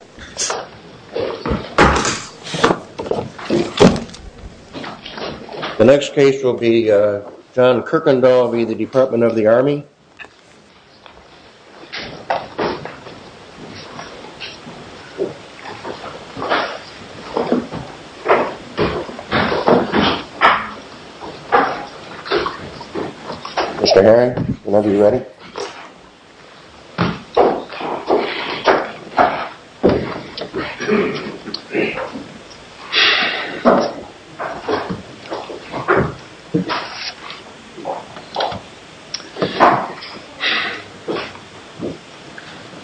Department. The next case will be John Kirkendall v. Department of the Army. Mr. Herring, whenever you're ready.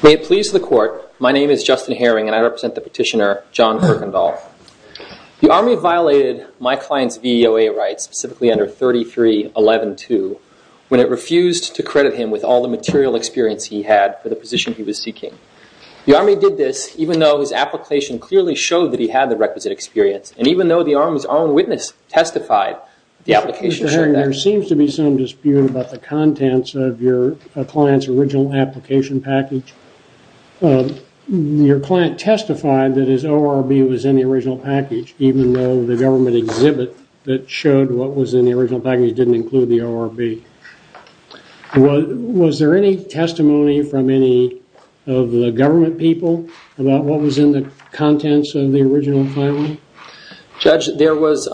May it please the court, my name is Justin Herring and I represent the petitioner John Kirkendall. The Army violated my client's VOA rights, specifically under Section 33.11.2 when it refused to credit him with all the material experience he had for the position he was seeking. The Army did this even though his application clearly showed that he had the requisite experience and even though the Army's own witness testified the application showed that. Mr. Herring, there seems to be some dispute about the contents of your client's original application package. Your client testified that his ORB was in the original package and didn't include the ORB. Was there any testimony from any of the government people about what was in the contents of the original filing? Judge, there was,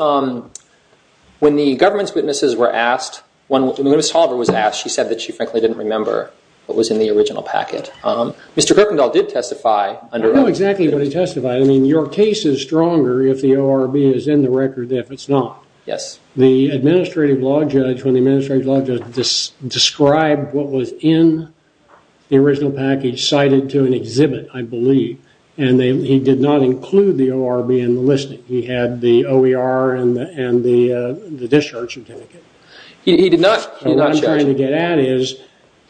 when the government's witnesses were asked, when Ms. Toliver was asked, she said that she frankly didn't remember what was in the original packet. Mr. Kirkendall did testify under... I know exactly what he testified. I mean, your case is stronger if the ORB is in the record than if it's not. The Administrative Law Judge, when the Administrative Law Judge described what was in the original package cited to an exhibit, I believe, and he did not include the ORB in the listing. He had the OER and the discharge certificate. What I'm trying to get at is,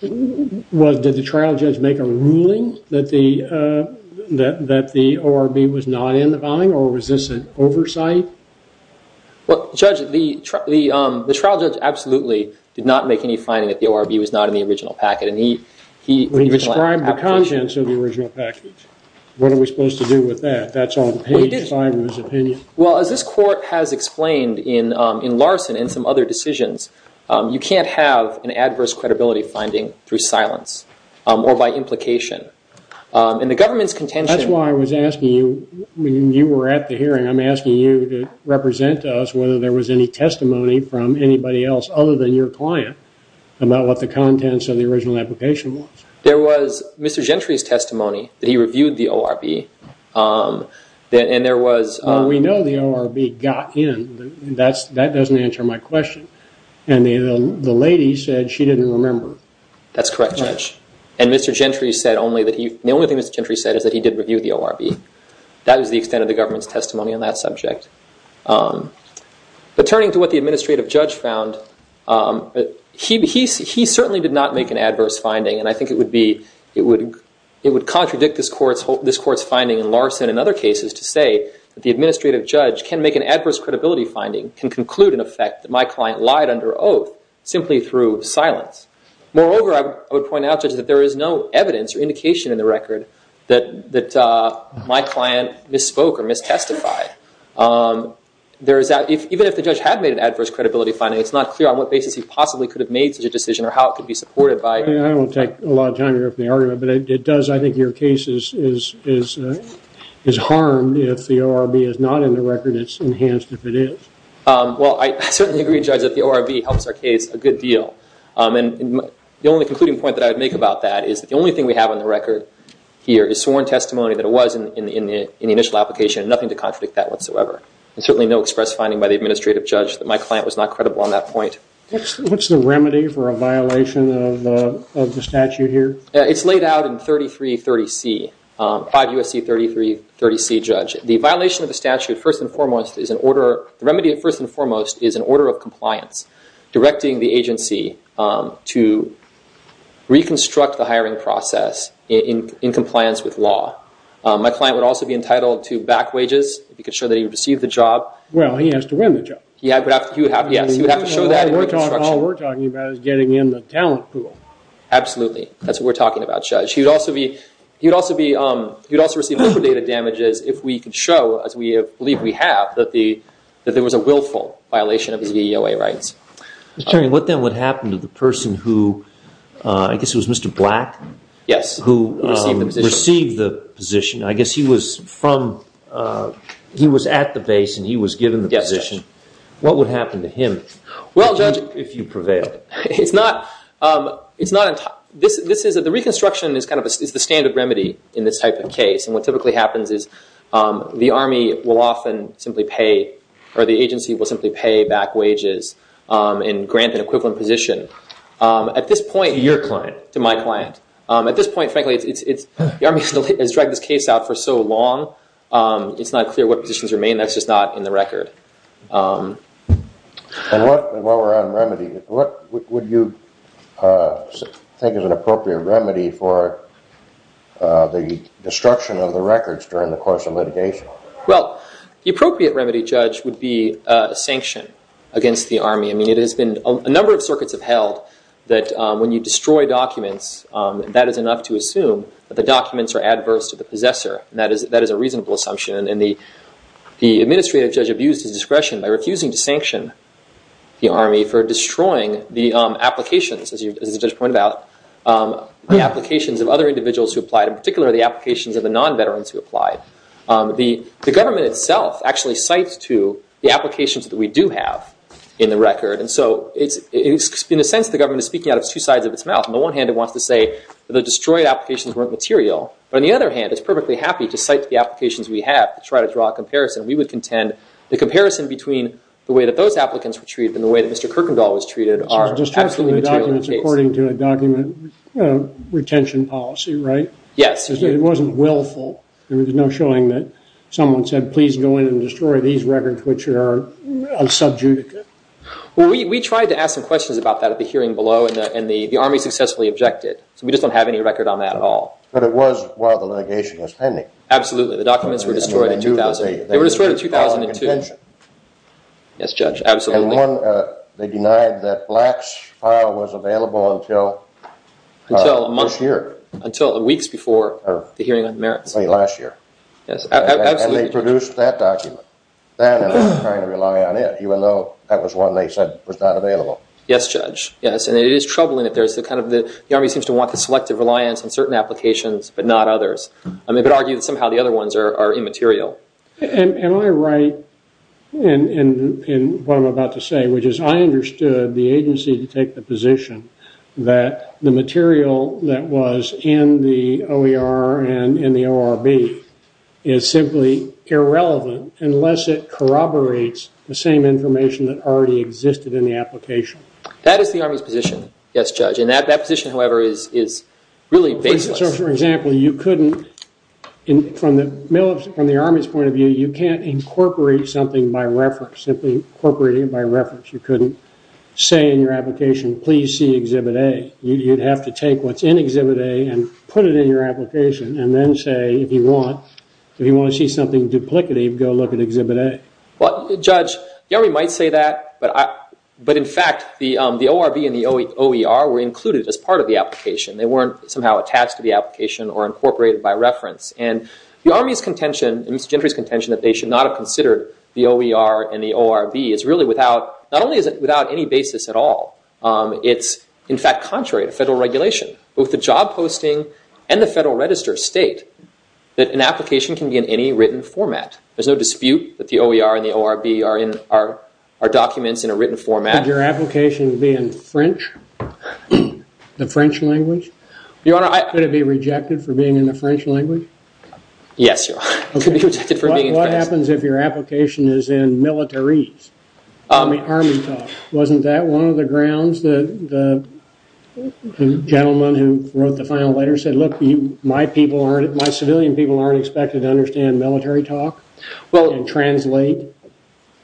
did the trial judge make a ruling that the ORB was not in the original package? Well, Judge, the trial judge absolutely did not make any finding that the ORB was not in the original packet. He described the contents of the original package. What are we supposed to do with that? That's on page 5 of his opinion. Well, as this court has explained in Larson and some other decisions, you can't have an adverse credibility finding through silence or by implication. In the government's contention... When you were at the hearing, I'm asking you to represent us whether there was any testimony from anybody else other than your client about what the contents of the original application was. There was Mr. Gentry's testimony that he reviewed the ORB. We know the ORB got in. That doesn't answer my question. The lady said she didn't remember. That's correct, Judge. Mr. Gentry said only that he... The only thing Mr. Gentry said is that he did not review the ORB. That is the extent of the government's testimony on that subject. But turning to what the administrative judge found, he certainly did not make an adverse finding, and I think it would contradict this court's finding in Larson and other cases to say that the administrative judge can make an adverse credibility finding, can conclude in effect that my client lied under oath simply through silence. Moreover, I would point out, Judge, that there is no evidence or indication in the record that my client misspoke or mistestified. There is... Even if the judge had made an adverse credibility finding, it's not clear on what basis he possibly could have made such a decision or how it could be supported by... I won't take a lot of time here for the argument, but it does... I think your case is harmed if the ORB is not in the record. It's enhanced if it is. Well, I certainly agree, Judge, that the ORB helps our case a good deal. The only concluding point that I would make about that is that the only thing we have on the record here is sworn testimony that it was in the initial application and nothing to contradict that whatsoever. And certainly no express finding by the administrative judge that my client was not credible on that point. What's the remedy for a violation of the statute here? It's laid out in 3330C, 5 U.S.C. 3330C, Judge. The violation of the statute, first and foremost, is an order... The remedy, first and foremost, is an order of compliance directing the agency to reconstruct the hiring process in compliance with law. My client would also be entitled to back wages if he could show that he received the job. Well, he has to win the job. Yes, he would have to show that in reconstruction. All we're talking about is getting in the talent pool. Absolutely. That's what we're talking about, Judge. He would also be... He would also receive the data damages if we could show, as we believe we have, that there was a willful violation of his VEOA rights. Attorney, what then would happen to the person who... I guess it was Mr. Black? Yes. Who received the position. Received the position. I guess he was from... He was at the base and he was given the position. Yes, Judge. What would happen to him if you prevailed? It's not... The reconstruction is the standard procedure. What typically happens is the Army will often simply pay, or the agency will simply pay back wages and grant an equivalent position at this point to your client, to my client. At this point, frankly, the Army has dragged this case out for so long, it's not clear what positions remain. That's just not in the record. And while we're on remedy, what would you think is an appropriate remedy for the destruction of the records during the course of litigation? Well, the appropriate remedy, Judge, would be a sanction against the Army. I mean, it has been... A number of circuits have held that when you destroy documents, that is enough to assume that the documents are adverse to the possessor. That is a reasonable assumption. And the administrative judge abused his discretion by refusing to sanction the Army for destroying the applications, as you just pointed out, the applications of other individuals who applied, in particular, the applications of the non-veterans who applied. The government itself actually cites to the applications that we do have in the record. And so, in a sense, the government is speaking out of two sides of its mouth. On the one hand, it wants to say that the destroyed applications weren't material, but on the other hand, it's perfectly happy to cite the applications we have to try to draw a comparison. We would contend the comparison between the way that those applicants were treated and the way that Mr. Kuykendall was treated are absolutely material in the case. So it's destroying the documents according to a document retention policy, right? Yes. It wasn't willful. I mean, there's no showing that someone said, please go in and destroy these records, which are unsubjudicated. Well, we tried to ask some questions about that at the hearing below, and the Army successfully objected. So we just don't have any record on that at all. But it was while the litigation was pending. Absolutely. The documents were destroyed in 2000. They were destroyed in 2002. They were destroyed at our contention. Yes, Judge. Absolutely. And one, they denied that Black's file was available until this year. Until weeks before the hearing on the merits. Last year. Yes, absolutely. And they produced that document. Then they were trying to rely on it, even though that was one they said was not available. Yes, Judge. Yes, and it is troubling that there's the kind of, the Army seems to want the selective reliance on certain applications, but not others. I mean, but argue that somehow the other ones are immaterial. Am I right in what I'm about to say, which is I understood the agency to take the position that the material that was in the OER and in the ORB is simply irrelevant unless it corroborates the same information that already existed in the application. That is the Army's position. Yes, Judge. And that position, however, is really baseless. So, for example, you couldn't, from the Army's point of view, you can't incorporate something by reference, simply incorporating it by reference. You couldn't say in your application, please see Exhibit A. You'd have to take what's in Exhibit A and put it in your application and then say, if you want to see something duplicative, go look at Exhibit A. Well, Judge, the Army might say that, but in fact, the ORB and the OER were included as part of the application. They weren't somehow attached to the application or incorporated by reference. And the Army's contention, and Mr. Gentry's contention, that they should not have considered the OER and the ORB is really without, not only is it without any basis at all, it's in fact contrary to federal regulation. Both the job posting and the federal register state that an application can be in any written format. There's no dispute that the OER and the ORB are documents in a written format. Could your application be in French? The French language? Your Honor, I... Could it be rejected for being in the French language? Yes, Your Honor, it could be rejected for being in French. What happens if your application is in militaries? Army talk. Wasn't that one of the grounds that the gentleman who wrote the final letter said, look, my people aren't, my civilian people aren't expected to understand military talk and translate?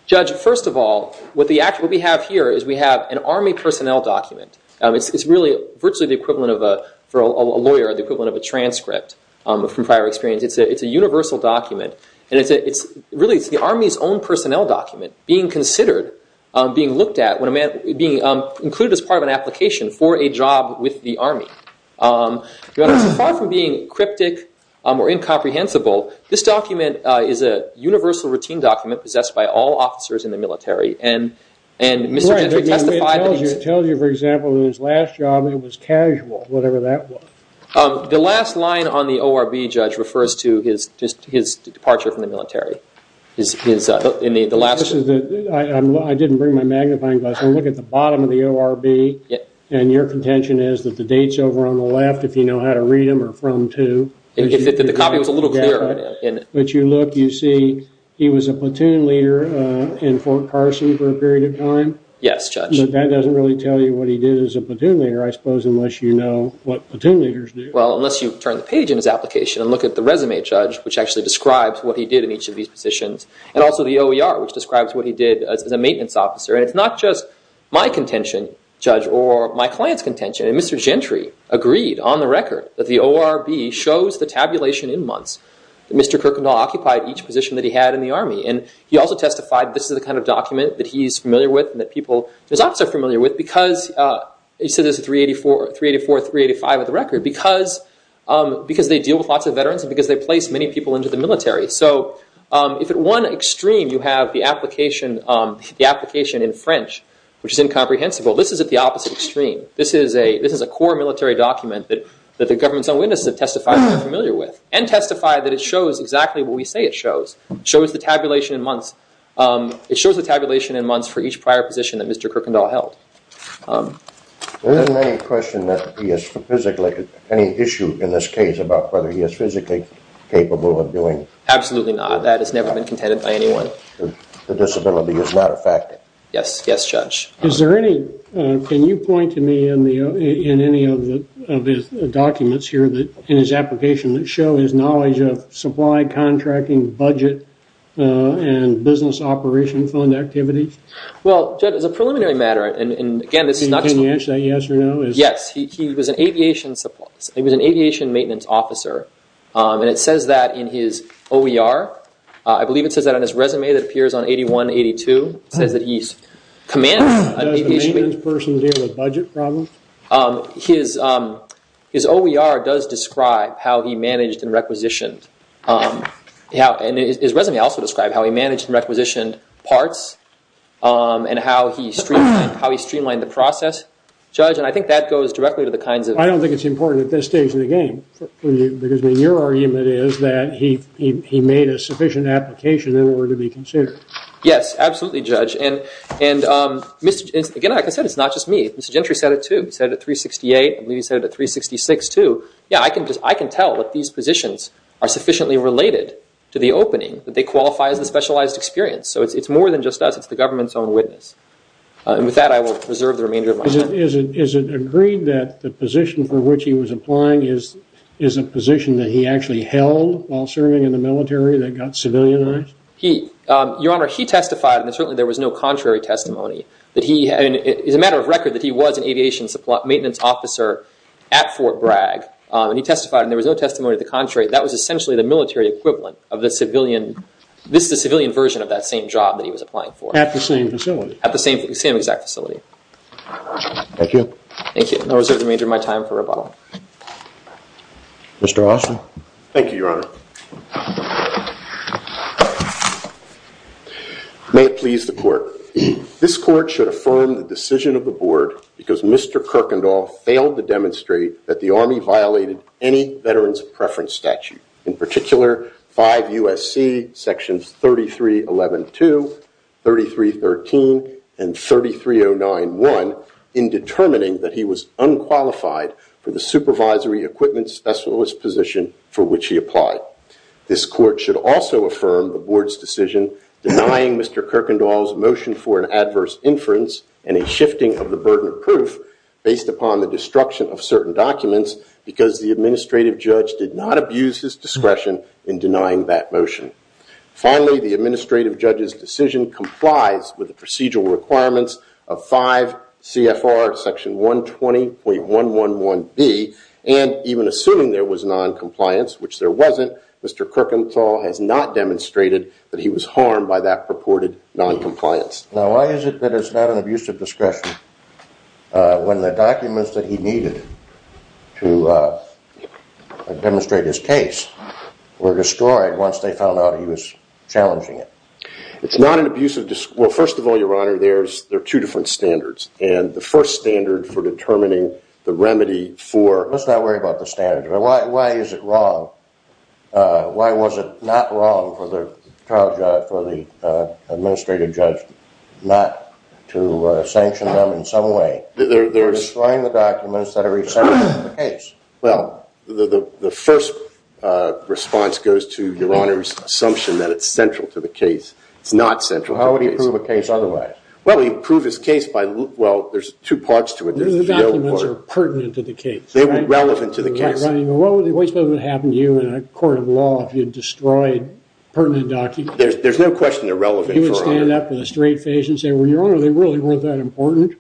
Judge, first of all, what we have here is we have an Army personnel document. It's really virtually the equivalent of a, for a lawyer, the equivalent of a transcript from prior experience. It's a universal document. And it's really, it's the Army's own personnel document being considered, being looked at, being included as part of an application for a job with the Army. Your Honor, far from being cryptic or incomprehensible, this document is a universal routine document possessed by all officers in the military. And Mr. Gentry testified... It tells you, for example, in his last job it was casual, whatever that was. The last line on the ORB, Judge, refers to his departure from the military. His, in the last... I didn't bring my magnifying glass. I look at the bottom of the ORB and your contention is that the dates over on the left, if you know how to read them, are from to... The copy was a little clearer. But you look, you see he was a platoon leader in Fort Parson for a period of time. Yes, Judge. But that doesn't really tell you what he did as a platoon leader, I suppose, unless you know what platoon leaders do. Well, unless you turn the page in his application and look at the resume, Judge, which actually describes what he did in each of these positions. And also the OER, which describes what he did as a maintenance officer. And it's not just my contention, Judge, or my client's on the record that the ORB shows the tabulation in months that Mr. Kirkendall occupied each position that he had in the Army. And he also testified this is the kind of document that he's familiar with and that people... His officers are familiar with because... He said there's 384, 385 of the record because they deal with lots of veterans and because they place many people into the military. So, if at one extreme you have the application in French, which is incomprehensible, this is at the opposite extreme. This is a core military document that the government's own witnesses have testified they're familiar with. And testified that it shows exactly what we say it shows. Shows the tabulation in months. It shows the tabulation in months for each prior position that Mr. Kirkendall held. There isn't any question that he has physically... Any issue in this case about whether he is physically capable of doing... Absolutely not. That has never been contended by anyone. The disability is not a fact. Yes, Judge. Is there any... Can you point to me in any of his documents here in his application that show his knowledge of supply, contracting, budget, and business operation fund activities? Well, Judge, as a preliminary matter, and again, this is not... Can you answer that yes or no? Yes. He was an aviation maintenance officer. And it says that in his OER. I believe it says that on his resume that appears on 8182. It says that he commands... Does the maintenance person deal with budget problems? His OER does describe how he managed and requisitioned. And his resume also described how he managed and requisitioned parts. And how he streamlined the process. Judge, and I think that goes directly to the kinds of... I don't think it's important at this stage in the game for you. Because your argument is that he made a sufficient application in order to be considered. Yes, absolutely, Judge. And again, like I said, it's not just me. Mr. Gentry said it too. He said it at 368. I believe he said it at 366 too. Yeah, I can tell that these positions are sufficiently related to the opening. That they qualify as a specialized experience. So it's more than just us. It's the government's own witness. And with that, I will reserve the remainder of my time. Is it agreed that the position for which he was applying is a position that he actually held while serving in the military that got civilianized? Your Honor, he testified and certainly there was no contrary testimony. It is a matter of record that he was an aviation maintenance officer at Fort Bragg. And he testified and there was no testimony to the contrary. That was essentially the military equivalent of the civilian... This is a civilian version of that same job that he was applying for. At the same facility? At the same exact facility. Thank you. Thank you. And I'll reserve the remainder of my time for rebuttal. Mr. Austin. Thank you, Your Honor. May it please the Court. This Court should affirm the decision of the Board because Mr. Kirkendall failed to demonstrate that the Army violated any Veterans Preference Statute. In particular, 5 U.S.C. Sections 33.11.2, 33.13, and 33.09.1 in determining that he was unqualified for the supervisory equipment specialist position for which he applied. This Court should also affirm the Board's decision denying Mr. Kirkendall's motion for an adverse inference and a shifting of the burden of proof based upon the destruction of certain documents because the Administrative Judge did not abuse his discretion in denying that motion. Finally, the Administrative Judge's decision complies with the procedural requirements of 5 CFR Section 120.111B and even assuming there was noncompliance, which there wasn't, Mr. Kirkendall has not demonstrated that he was harmed by that purported noncompliance. Now, why is it that it's not an abuse of discretion when the documents that he needed to demonstrate his case were destroyed once they found out he was challenging it? It's not an abuse of... Well, first of all, Your Honor, there are two different standards. And the first standard for determining the remedy for... Why was it not wrong for the Administrative Judge not to sanction them in some way? They're destroying the documents that are essential to the case. Well, the first response goes to Your Honor's assumption that it's central to the case. It's not central to the case. How would he prove a case otherwise? Well, he'd prove his case by... Well, there's two parts to it. The documents are pertinent to the case. They were relevant to the case. What would happen to you in a court of law if you destroyed pertinent documents? There's no question they're relevant. You would stand up in a straight face and say, Well, Your Honor, they really weren't that important.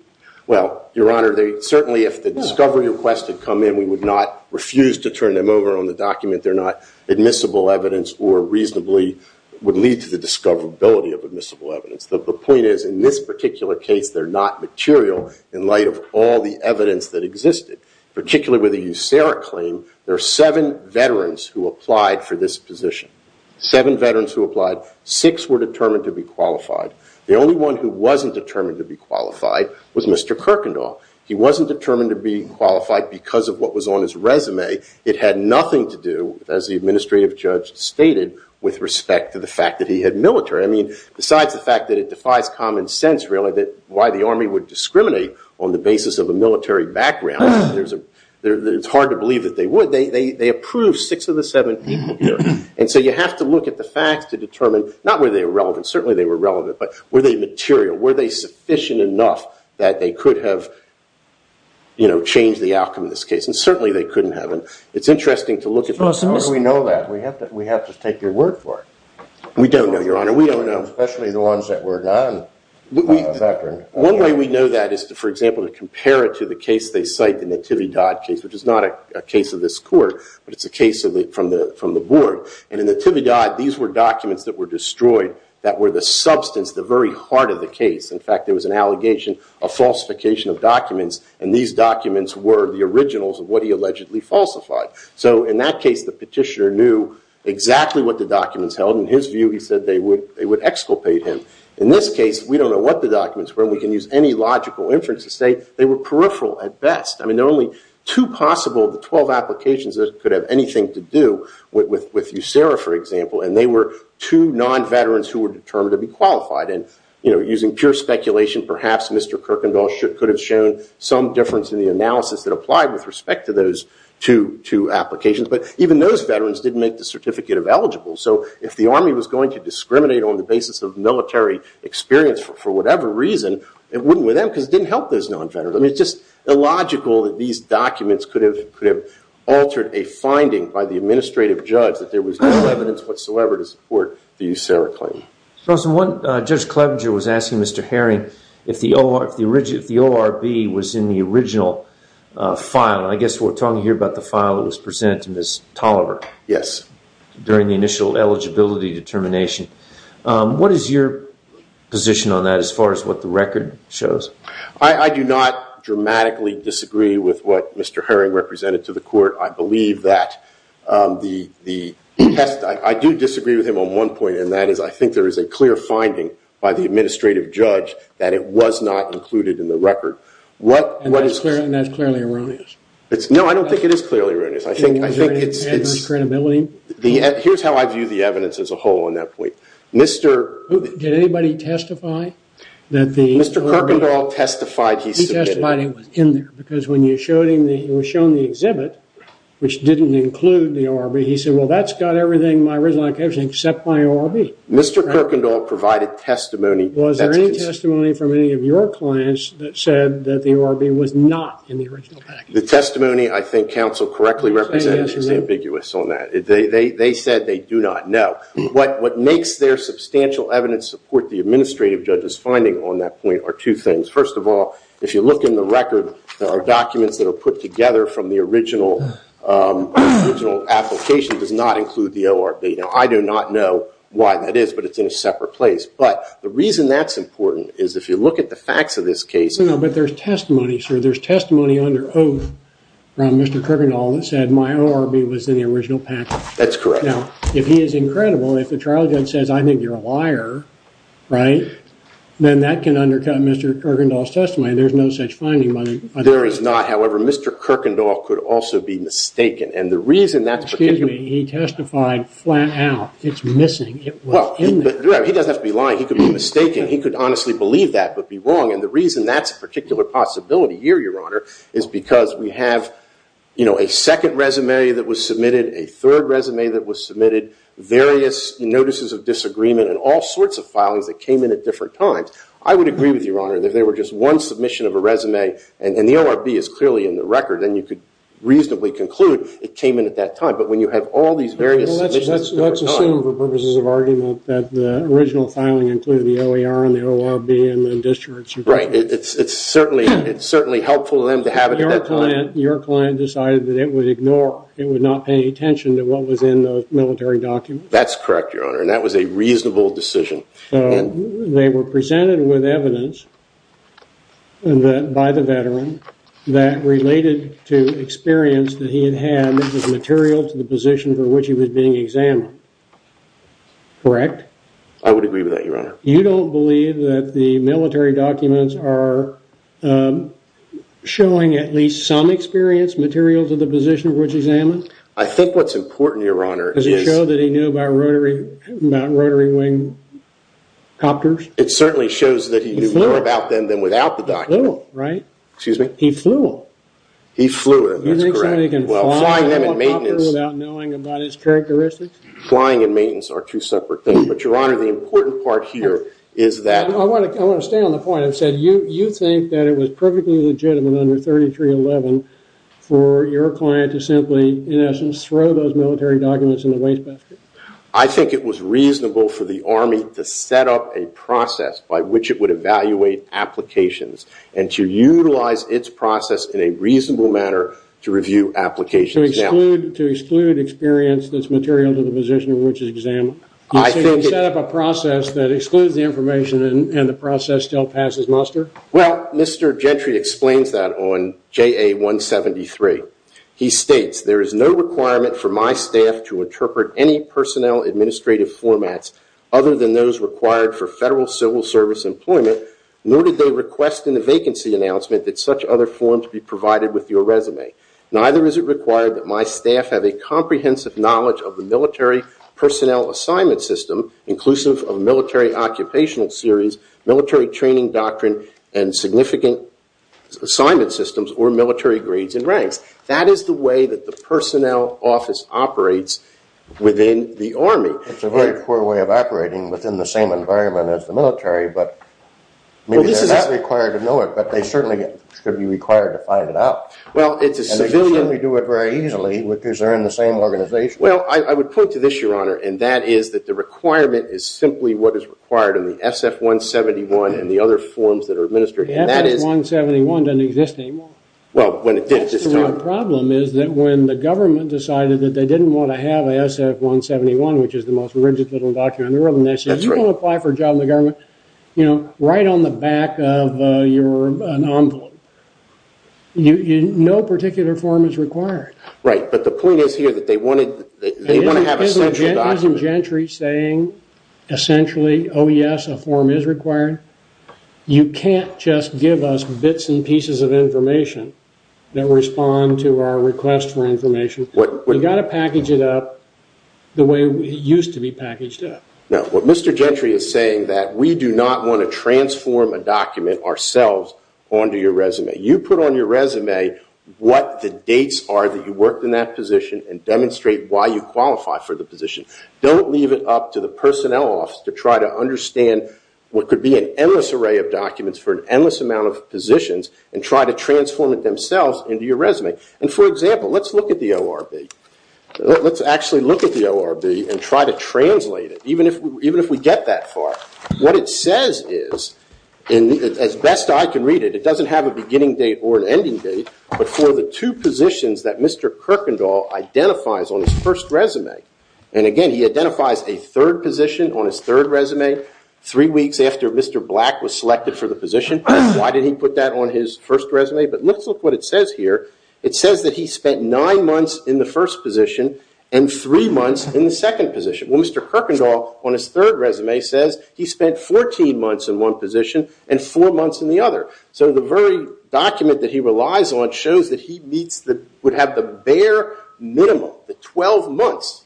Well, Your Honor, certainly if the discovery request had come in, we would not refuse to turn them over on the document. They're not admissible evidence or reasonably would lead to the discoverability of admissible evidence. The point is, in this particular case, they're not material in light of all the evidence that existed. Particularly with the USARA claim, there are seven veterans who applied for this position. Seven veterans who applied. Six were determined to be qualified. The only one who wasn't determined to be qualified was Mr. Kirkendall. He wasn't determined to be qualified because of what was on his resume. It had nothing to do, as the administrative judge stated, with respect to the fact that he had military. Besides the fact that it defies common sense, really, why the Army would discriminate on the basis of a military background, it's hard to believe that they would. They approved six of the seven people here. You have to look at the facts to determine, not whether they were relevant, certainly they were relevant, but were they material, were they sufficient enough that they could have changed the outcome of this case? Certainly they couldn't have. It's interesting to look at the facts. We know that. We have to take your word for it. We don't know, Your Honor. Especially the ones that were done by a veteran. One way we know that is, for example, to compare it to the case they cite, the Nativi Dodd case, which is not a case of this Court, but it's a case from the Board. In the Nativi Dodd, these were documents that were destroyed that were the substance, the very heart of the case. In fact, there was an allegation of falsification of documents, and these documents were the originals of what he allegedly falsified. In that case, the petitioner knew exactly what the documents held. In his view, he said they would exculpate him. In this case, we don't know what the documents were. We can use any logical inference to say they were peripheral at best. There are only two possible of the 12 applications that could have anything to do with USERRA, for example, and they were two non-veterans who were determined to be qualified. Using pure speculation, perhaps Mr. Kirkendall could have shown some difference in the analysis that applied with respect to those two applications, but even those veterans didn't make the certificate of eligible. If the Army was going to discriminate on the basis of military experience for whatever reason, it wouldn't with them because it didn't help those non-veterans. It's just illogical that these documents could have altered a finding by the administrative judge that there was no evidence whatsoever to support the USERRA claim. One Judge Clevenger was asking Mr. Herring if the ORB was in the original file. I guess we're talking here about the file that was presented to Ms. Tolliver during the initial eligibility determination. What is your position on that as far as what the record shows? I do not dramatically disagree with what Mr. Herring represented to the court. I do disagree with him on one point, and that is I think there is a clear finding by the administrative judge that it was not included in the record. And that's clearly erroneous. No, I don't think it is clearly erroneous. Was there any adverse credibility? Here's how I view the evidence as a whole on that point. Did anybody testify? Mr. Kuykendall testified he submitted it. He testified it was in there because when it was shown in the exhibit, which didn't include the ORB, he said, well that's got everything, my original identification, except my ORB. Mr. Kuykendall provided testimony. Was there any testimony from any of your clients that said that the ORB was not in the original package? The testimony I think counsel correctly represented is ambiguous on that. They said they do not know. What makes their substantial evidence support the administrative judge's finding on that point are two things. First of all, if you look in the record, there are documents that are put together from the original application does not include the ORB. I do not know why that is, but it's in a separate place. But the reason that's important is if you look at the facts of this case, But there's testimony, sir. There's testimony under oath from Mr. Kuykendall that said my ORB was in the original package. That's correct. Now, if he is incredible, if the trial judge says I think you're a liar, right, then that can undercut Mr. Kuykendall's testimony. There's no such finding. There is not. However, Mr. Kuykendall could also be mistaken. Excuse me, he testified flat out. It's missing. It was in there. He doesn't have to be lying. He could be mistaken. He could honestly believe that but be wrong. And the reason that's a particular possibility here, Your Honor, is because we have a second resume that was submitted, a third resume that was submitted, various notices of disagreement, and all sorts of filings that came in at different times. I would agree with you, Your Honor, that if there were just one submission of a resume and the ORB is clearly in the record, then you could reasonably conclude it came in at that time. But when you have all these various submissions... Let's assume, for purposes of argument, that the original filing included the OER and the ORB and the discharge report. Right, it's certainly helpful to them to have it at that time. Your client decided that it would ignore, it would not pay attention to what was in the military document. That's correct, Your Honor, and that was a reasonable decision. They were presented with evidence by the veteran that related to experience that he had had that was material to the position for which he was being examined. Correct? I would agree with that, Your Honor. You don't believe that the military documents are showing at least some experience, material to the position for which he was examined? I think what's important, Your Honor, is... Does it show that he knew about rotary wing copters? It certainly shows that he knew more about them than without the document. He flew them, right? Excuse me? He flew them. He flew them, that's correct. Do you think somebody can fly a copter without knowing about its characteristics? Flying and maintenance are two separate things. But, Your Honor, the important part here is that... I want to stay on the point. You think that it was perfectly legitimate under 3311 for your client to simply, in essence, throw those military documents in the wastebasket? I think it was reasonable for the Army to set up a process by which it would evaluate applications and to utilize its process in a reasonable manner to review applications. To exclude experience that's material to the position under which it was examined. You think they set up a process that excludes the information and the process still passes muster? Well, Mr. Gentry explains that on JA 173. He states, There is no requirement for my staff to interpret any personnel administrative formats other than those required for federal civil service employment nor did they request in the vacancy announcement that such other forms be provided with your resume. Neither is it required that my staff have a comprehensive knowledge of the military personnel assignment system, inclusive of military occupational series, military training doctrine, and significant assignment systems or military grades and ranks. That is the way that the personnel office operates within the Army. It's a very poor way of operating within the same environment as the military, but maybe they're not required to know it, but they certainly could be required to find it out. Well, it's a civilian... And they can certainly do it very easily because they're in the same organization. Well, I would point to this, Your Honor, and that is that the requirement is simply what is required in the SF-171 and the other forms that are administered. The SF-171 doesn't exist anymore. Well, when it did at this time. The problem is that when the government decided that they didn't want to have a SF-171, which is the most rigid little document in the world, and they said, You want to apply for a job in the government, you know, right on the back of your, an envelope. No particular form is required. Right, but the point is here that they want to have a central document. Isn't Gentry saying essentially, Oh, yes, a form is required? You can't just give us bits and pieces of information that respond to our request for information. You've got to package it up the way it used to be packaged up. No, what Mr. Gentry is saying that we do not want to transform a document ourselves onto your resume. You put on your resume what the dates are that you worked in that position, and demonstrate why you qualify for the position. Don't leave it up to the personnel office to try to understand what could be an endless array of documents for an endless amount of positions, and try to transform it themselves into your resume. And for example, let's look at the ORB. Let's actually look at the ORB and try to translate it, even if we get that far. What it says is, as best I can read it, it doesn't have a beginning date or an ending date, but for the two positions that Mr. Kuykendall identifies on his first resume. And again, he identifies a third position on his third resume, three weeks after Mr. Black was selected for the position. Why did he put that on his first resume? But let's look at what it says here. It says that he spent nine months in the first position, and three months in the second position. Well, Mr. Kuykendall, on his third resume, says he spent 14 months in one position, and four months in the other. So the very document that he relies on shows that he would have the bare minimum, the 12 months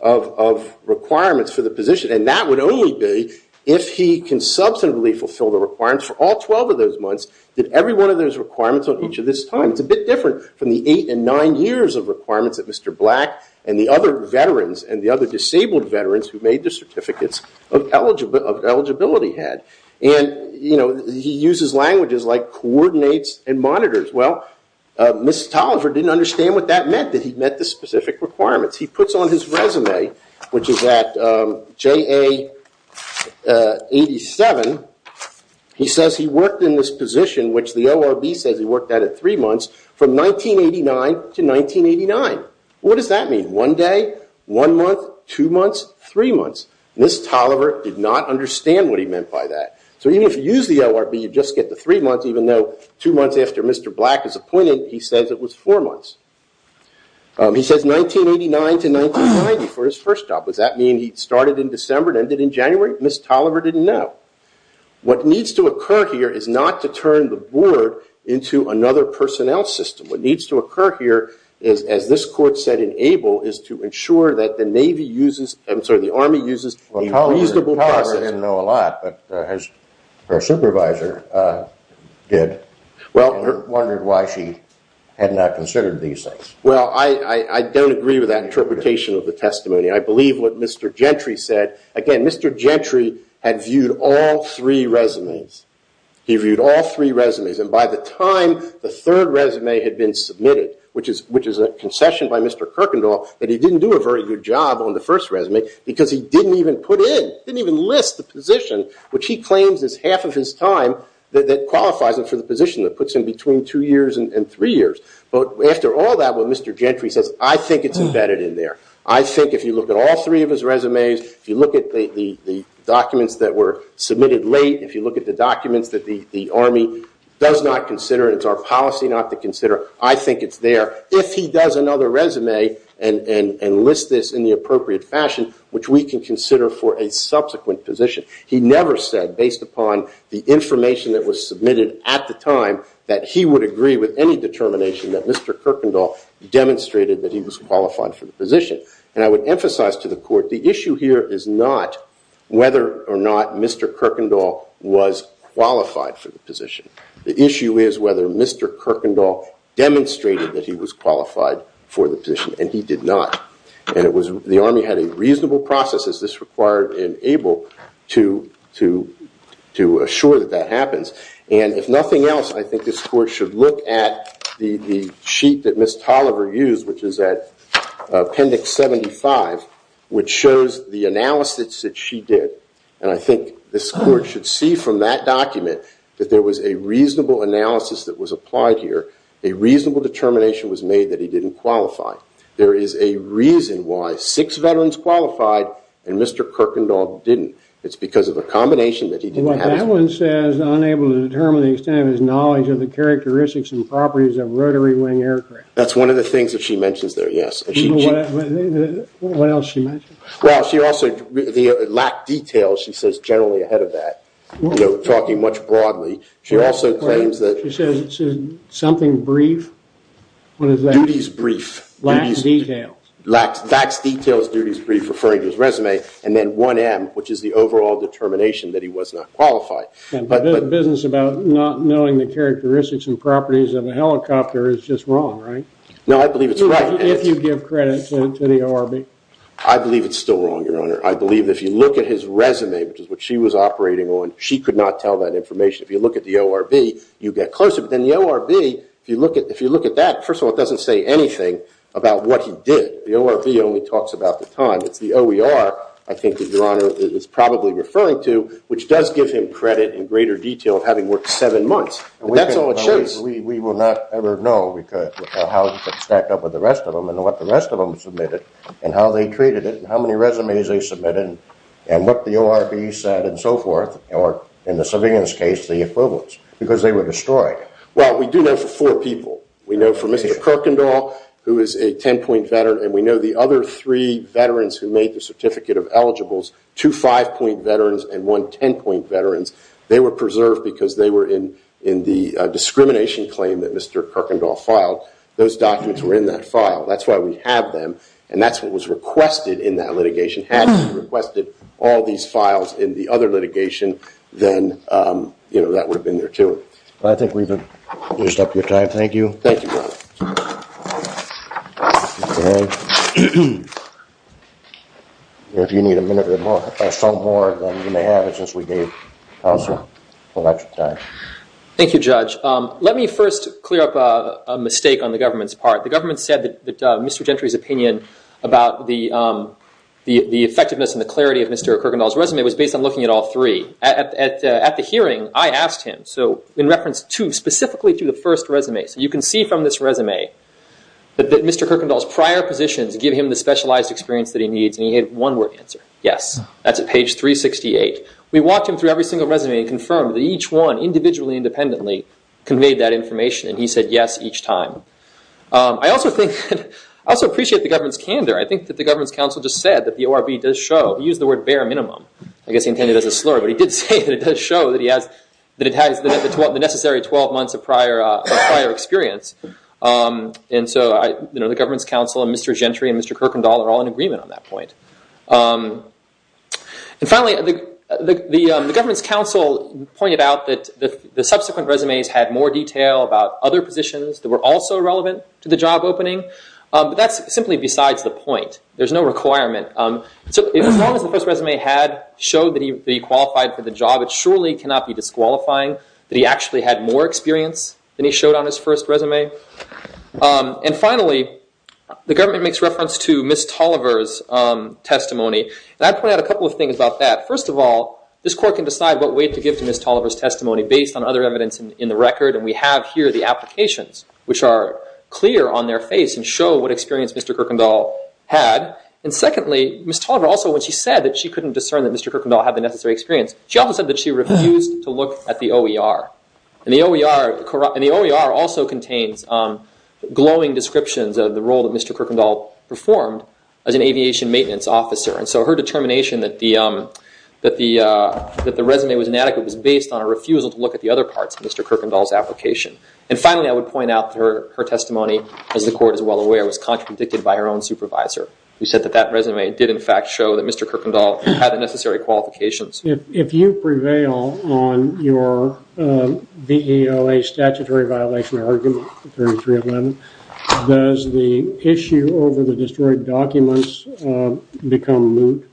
of requirements for the position. And that would only be, if he can substantively fulfill the requirements for all 12 of those months, did every one of those requirements on each of his time. It's a bit different from the eight and nine years of requirements that Mr. Black and the other veterans, and the other disabled veterans who made the certificates of eligibility had. And he uses languages like coordinates and monitors. Well, Ms. Tolliver didn't understand what that meant, that he met the specific requirements. He puts on his resume, which is at JA 87, he says he worked in this position, which the ORB says he worked at at three months, from 1989 to 1989. What does that mean? One day, one month, two months, three months? Ms. Tolliver did not understand what he meant by that. So even if you use the ORB, you just get the three months, even though two months after Mr. Black is appointed, he says it was four months. He says 1989 to 1990 for his first job. Does that mean he started in December and ended in January? Ms. Tolliver didn't know. What needs to occur here is not to turn the board into another personnel system. What needs to occur here is, as this court said in Abel, is to ensure that the Navy uses, I'm sorry, the Army uses a reasonable process. Well, Tolliver didn't know a lot, but her supervisor did, and wondered why she had not considered these things. Well, I don't agree with that interpretation of the testimony. I believe what Mr. Gentry said. Again, Mr. Gentry had viewed all three resumes. He viewed all three resumes, and by the time the third resume had been submitted, which is a concession by Mr. Kirkendall, that he didn't do a very good job on the first resume, because he didn't even put in, didn't even list the position, which he claims is half of his time, that qualifies him for the position that puts him between two years and three years. But after all that, what Mr. Gentry says, I think it's embedded in there. I think if you look at all three of his resumes, if you look at the documents that were submitted late, if you look at the documents that the Army does not consider, and it's our policy not to consider, I think it's there. If he does another resume, and lists this in the appropriate fashion, which we can consider for a subsequent position. He never said, based upon the information that was submitted at the time, that he would agree with any determination that Mr. Kirkendall demonstrated that he was qualified for the position. And I would emphasize to the Court, the issue here is not whether or not Mr. Kirkendall was qualified for the position. The issue is whether Mr. Kirkendall demonstrated that he was qualified for the position, and he did not. And the Army had a reasonable process as this required and able to assure that that happens. And if nothing else, I think this Court should look at the sheet that Ms. Tolliver used, which is at Appendix 75, which shows the analysis that she did. And I think this Court should see from that document that there was a reasonable analysis that was applied here. A reasonable determination was made that he didn't qualify. There is a reason why six veterans qualified, and Mr. Kirkendall didn't. It's because of a combination that he didn't have. That one says, unable to determine the extent of his knowledge of the characteristics and properties of rotary wing aircraft. That's one of the things that she mentions there, yes. What else did she mention? Well, she also, the lack of detail, she says, generally ahead of that, talking much broadly. She also claims that... Something brief? Duty's brief. Lacks detail. Lacks detail is duty's brief, referring to his resume. And then 1M, which is the overall determination that he was not qualified. The business about not knowing the characteristics and properties of a helicopter is just wrong, right? No, I believe it's right. If you give credit to the ORB. I believe it's still wrong, Your Honor. I believe if you look at his resume, which is what she was operating on, she could not tell that information. If you look at the ORB, you get closer. But then the ORB, if you look at that, first of all, it doesn't say anything about what he did. The ORB only talks about the time. It's the OER, I think, Your Honor, is probably referring to, which does give him credit in greater detail of having worked seven months. But that's all it shows. We will not ever know how he stacked up with the rest of them and what the rest of them submitted and how they treated it and how many resumes they submitted and what the ORB said and so forth or, in the civilian's case, the equivalents, because they were destroyed. Well, we do know for four people. We know for Mr. Kirkendall, who is a 10-point veteran, and we know the other three veterans who made the certificate of eligibles, two 5-point veterans and one 10-point veterans, they were preserved because they were in the discrimination claim that Mr. Kirkendall filed. Those documents were in that file. That's why we have them, and that's what was requested in that litigation. Had we requested all these files in the other litigation, then, you know, that would have been there, too. I think we've used up your time. Thank you. Thank you, Your Honor. Okay. If you need a minute or so more, then you may have it, since we gave counsel a lot of time. Thank you, Judge. Let me first clear up a mistake on the government's part. The government said that Mr. Gentry's opinion about the effectiveness and the clarity of Mr. Kirkendall's resume was based on looking at all three. At the hearing, I asked him, in reference to, specifically to the first resume. You can see from this resume that Mr. Kirkendall's prior positions give him the specialized experience that he needs, and he had one word answer, yes. That's at page 368. We walked him through every single resume and confirmed that each one, individually and independently, conveyed that information, and he said yes each time. I also think I also appreciate the government's candor. I think that the government's counsel just said that the ORB does show he used the word bare minimum. I guess he intended it as a slur, but he did say that it does show that he has, that it has the necessary 12 months of prior experience. The government's counsel and Mr. Gentry and Mr. Kirkendall are all in agreement on that point. Finally, the government's counsel pointed out that the subsequent resumes had more detail about other positions that were also relevant to the job opening, but that's simply besides the point. There's no requirement. As long as the first resume showed that he qualified for the job, it surely cannot be disqualifying that he actually had more experience than he showed on his first resume. Finally, the government makes reference to Ms. Tolliver's testimony, and I'd point out a couple of things about that. First of all, this court can decide what weight to give to Ms. Tolliver's testimony based on other evidence in the record, and we have here the applications, which are clear on their face and show what experience Mr. Kirkendall had. And secondly, Ms. Tolliver also, when she said that she couldn't discern that Mr. Kirkendall had the necessary experience, she also said that she refused to look at the OER. And the OER also contains glowing descriptions of the role that Mr. Kirkendall performed as an aviation maintenance officer, and so her determination that the resume was inadequate was based on a refusal to look at the other parts of Mr. Kirkendall's application. And finally, I would point out her testimony, as the court is well aware, was contradicted by her own supervisor, who said that that resume did, in fact, show that Mr. Kirkendall had the necessary qualifications. If you prevail on your V.E.O.A. statutory violation argument 3311, does the issue over the destroyed documents become moot?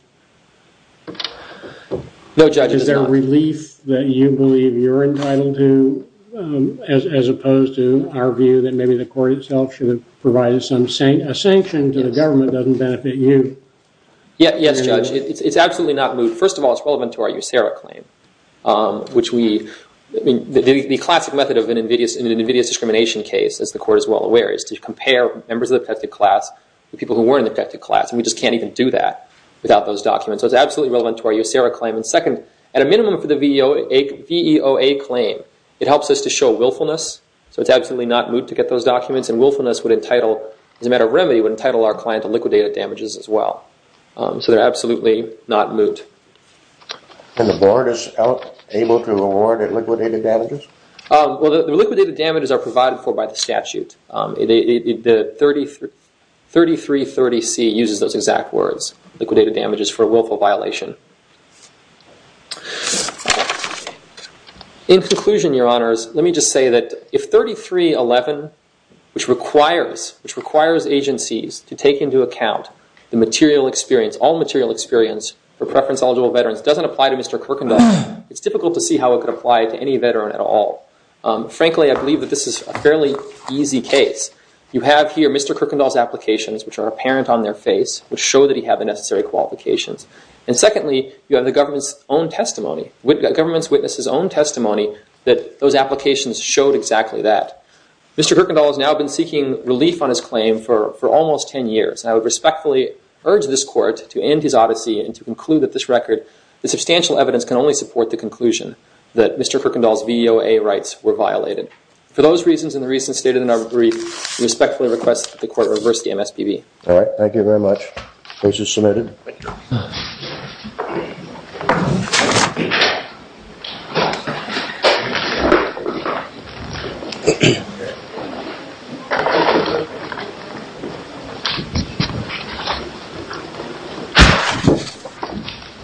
No, Judge, it's not. Is it a relief that you believe you're entitled to as opposed to our view that maybe the court itself should have provided a sanction to the government that doesn't benefit you? Yes, Judge, it's absolutely not moot. First of all, it's relevant to our USERRA claim, which we the classic method of an invidious discrimination case, as the court is well aware, is to compare members of the protected class to people who weren't in the protected class, and we just can't even do that without those documents. So it's absolutely relevant to our USERRA claim. And second, at a minimum for the V.E.O.A. claim, it helps us to show willfulness, so it's absolutely not moot to get those documents, and willfulness would entitle as a matter of remedy, would entitle our client to liquidated damages as well. So they're absolutely not moot. And the board is able to award liquidated damages? Well, the liquidated damages are provided for by the statute. The 3330C uses those as a legal violation. In conclusion, Your Honors, let me just say that if 3311, which requires agencies to take into account the material experience, all material experience for preference-eligible veterans, doesn't apply to Mr. Kirkendall, it's difficult to see how it could apply to any veteran at all. Frankly, I believe that this is a fairly easy case. You have here Mr. Kirkendall's applications, which are apparent on their face, which show that he had the necessary qualifications. And secondly, you have the government's own testimony, the government's witness' own testimony that those applications showed exactly that. Mr. Kirkendall has now been seeking relief on his claim for almost 10 years, and I would respectfully urge this Court to end his odyssey and to conclude that this record, the substantial evidence, can only support the conclusion that Mr. Kirkendall's VOA rights were violated. For those reasons and the reasons stated in our brief, we respectfully request that the Court reverse the MSPB. Thank you very much. Case is submitted.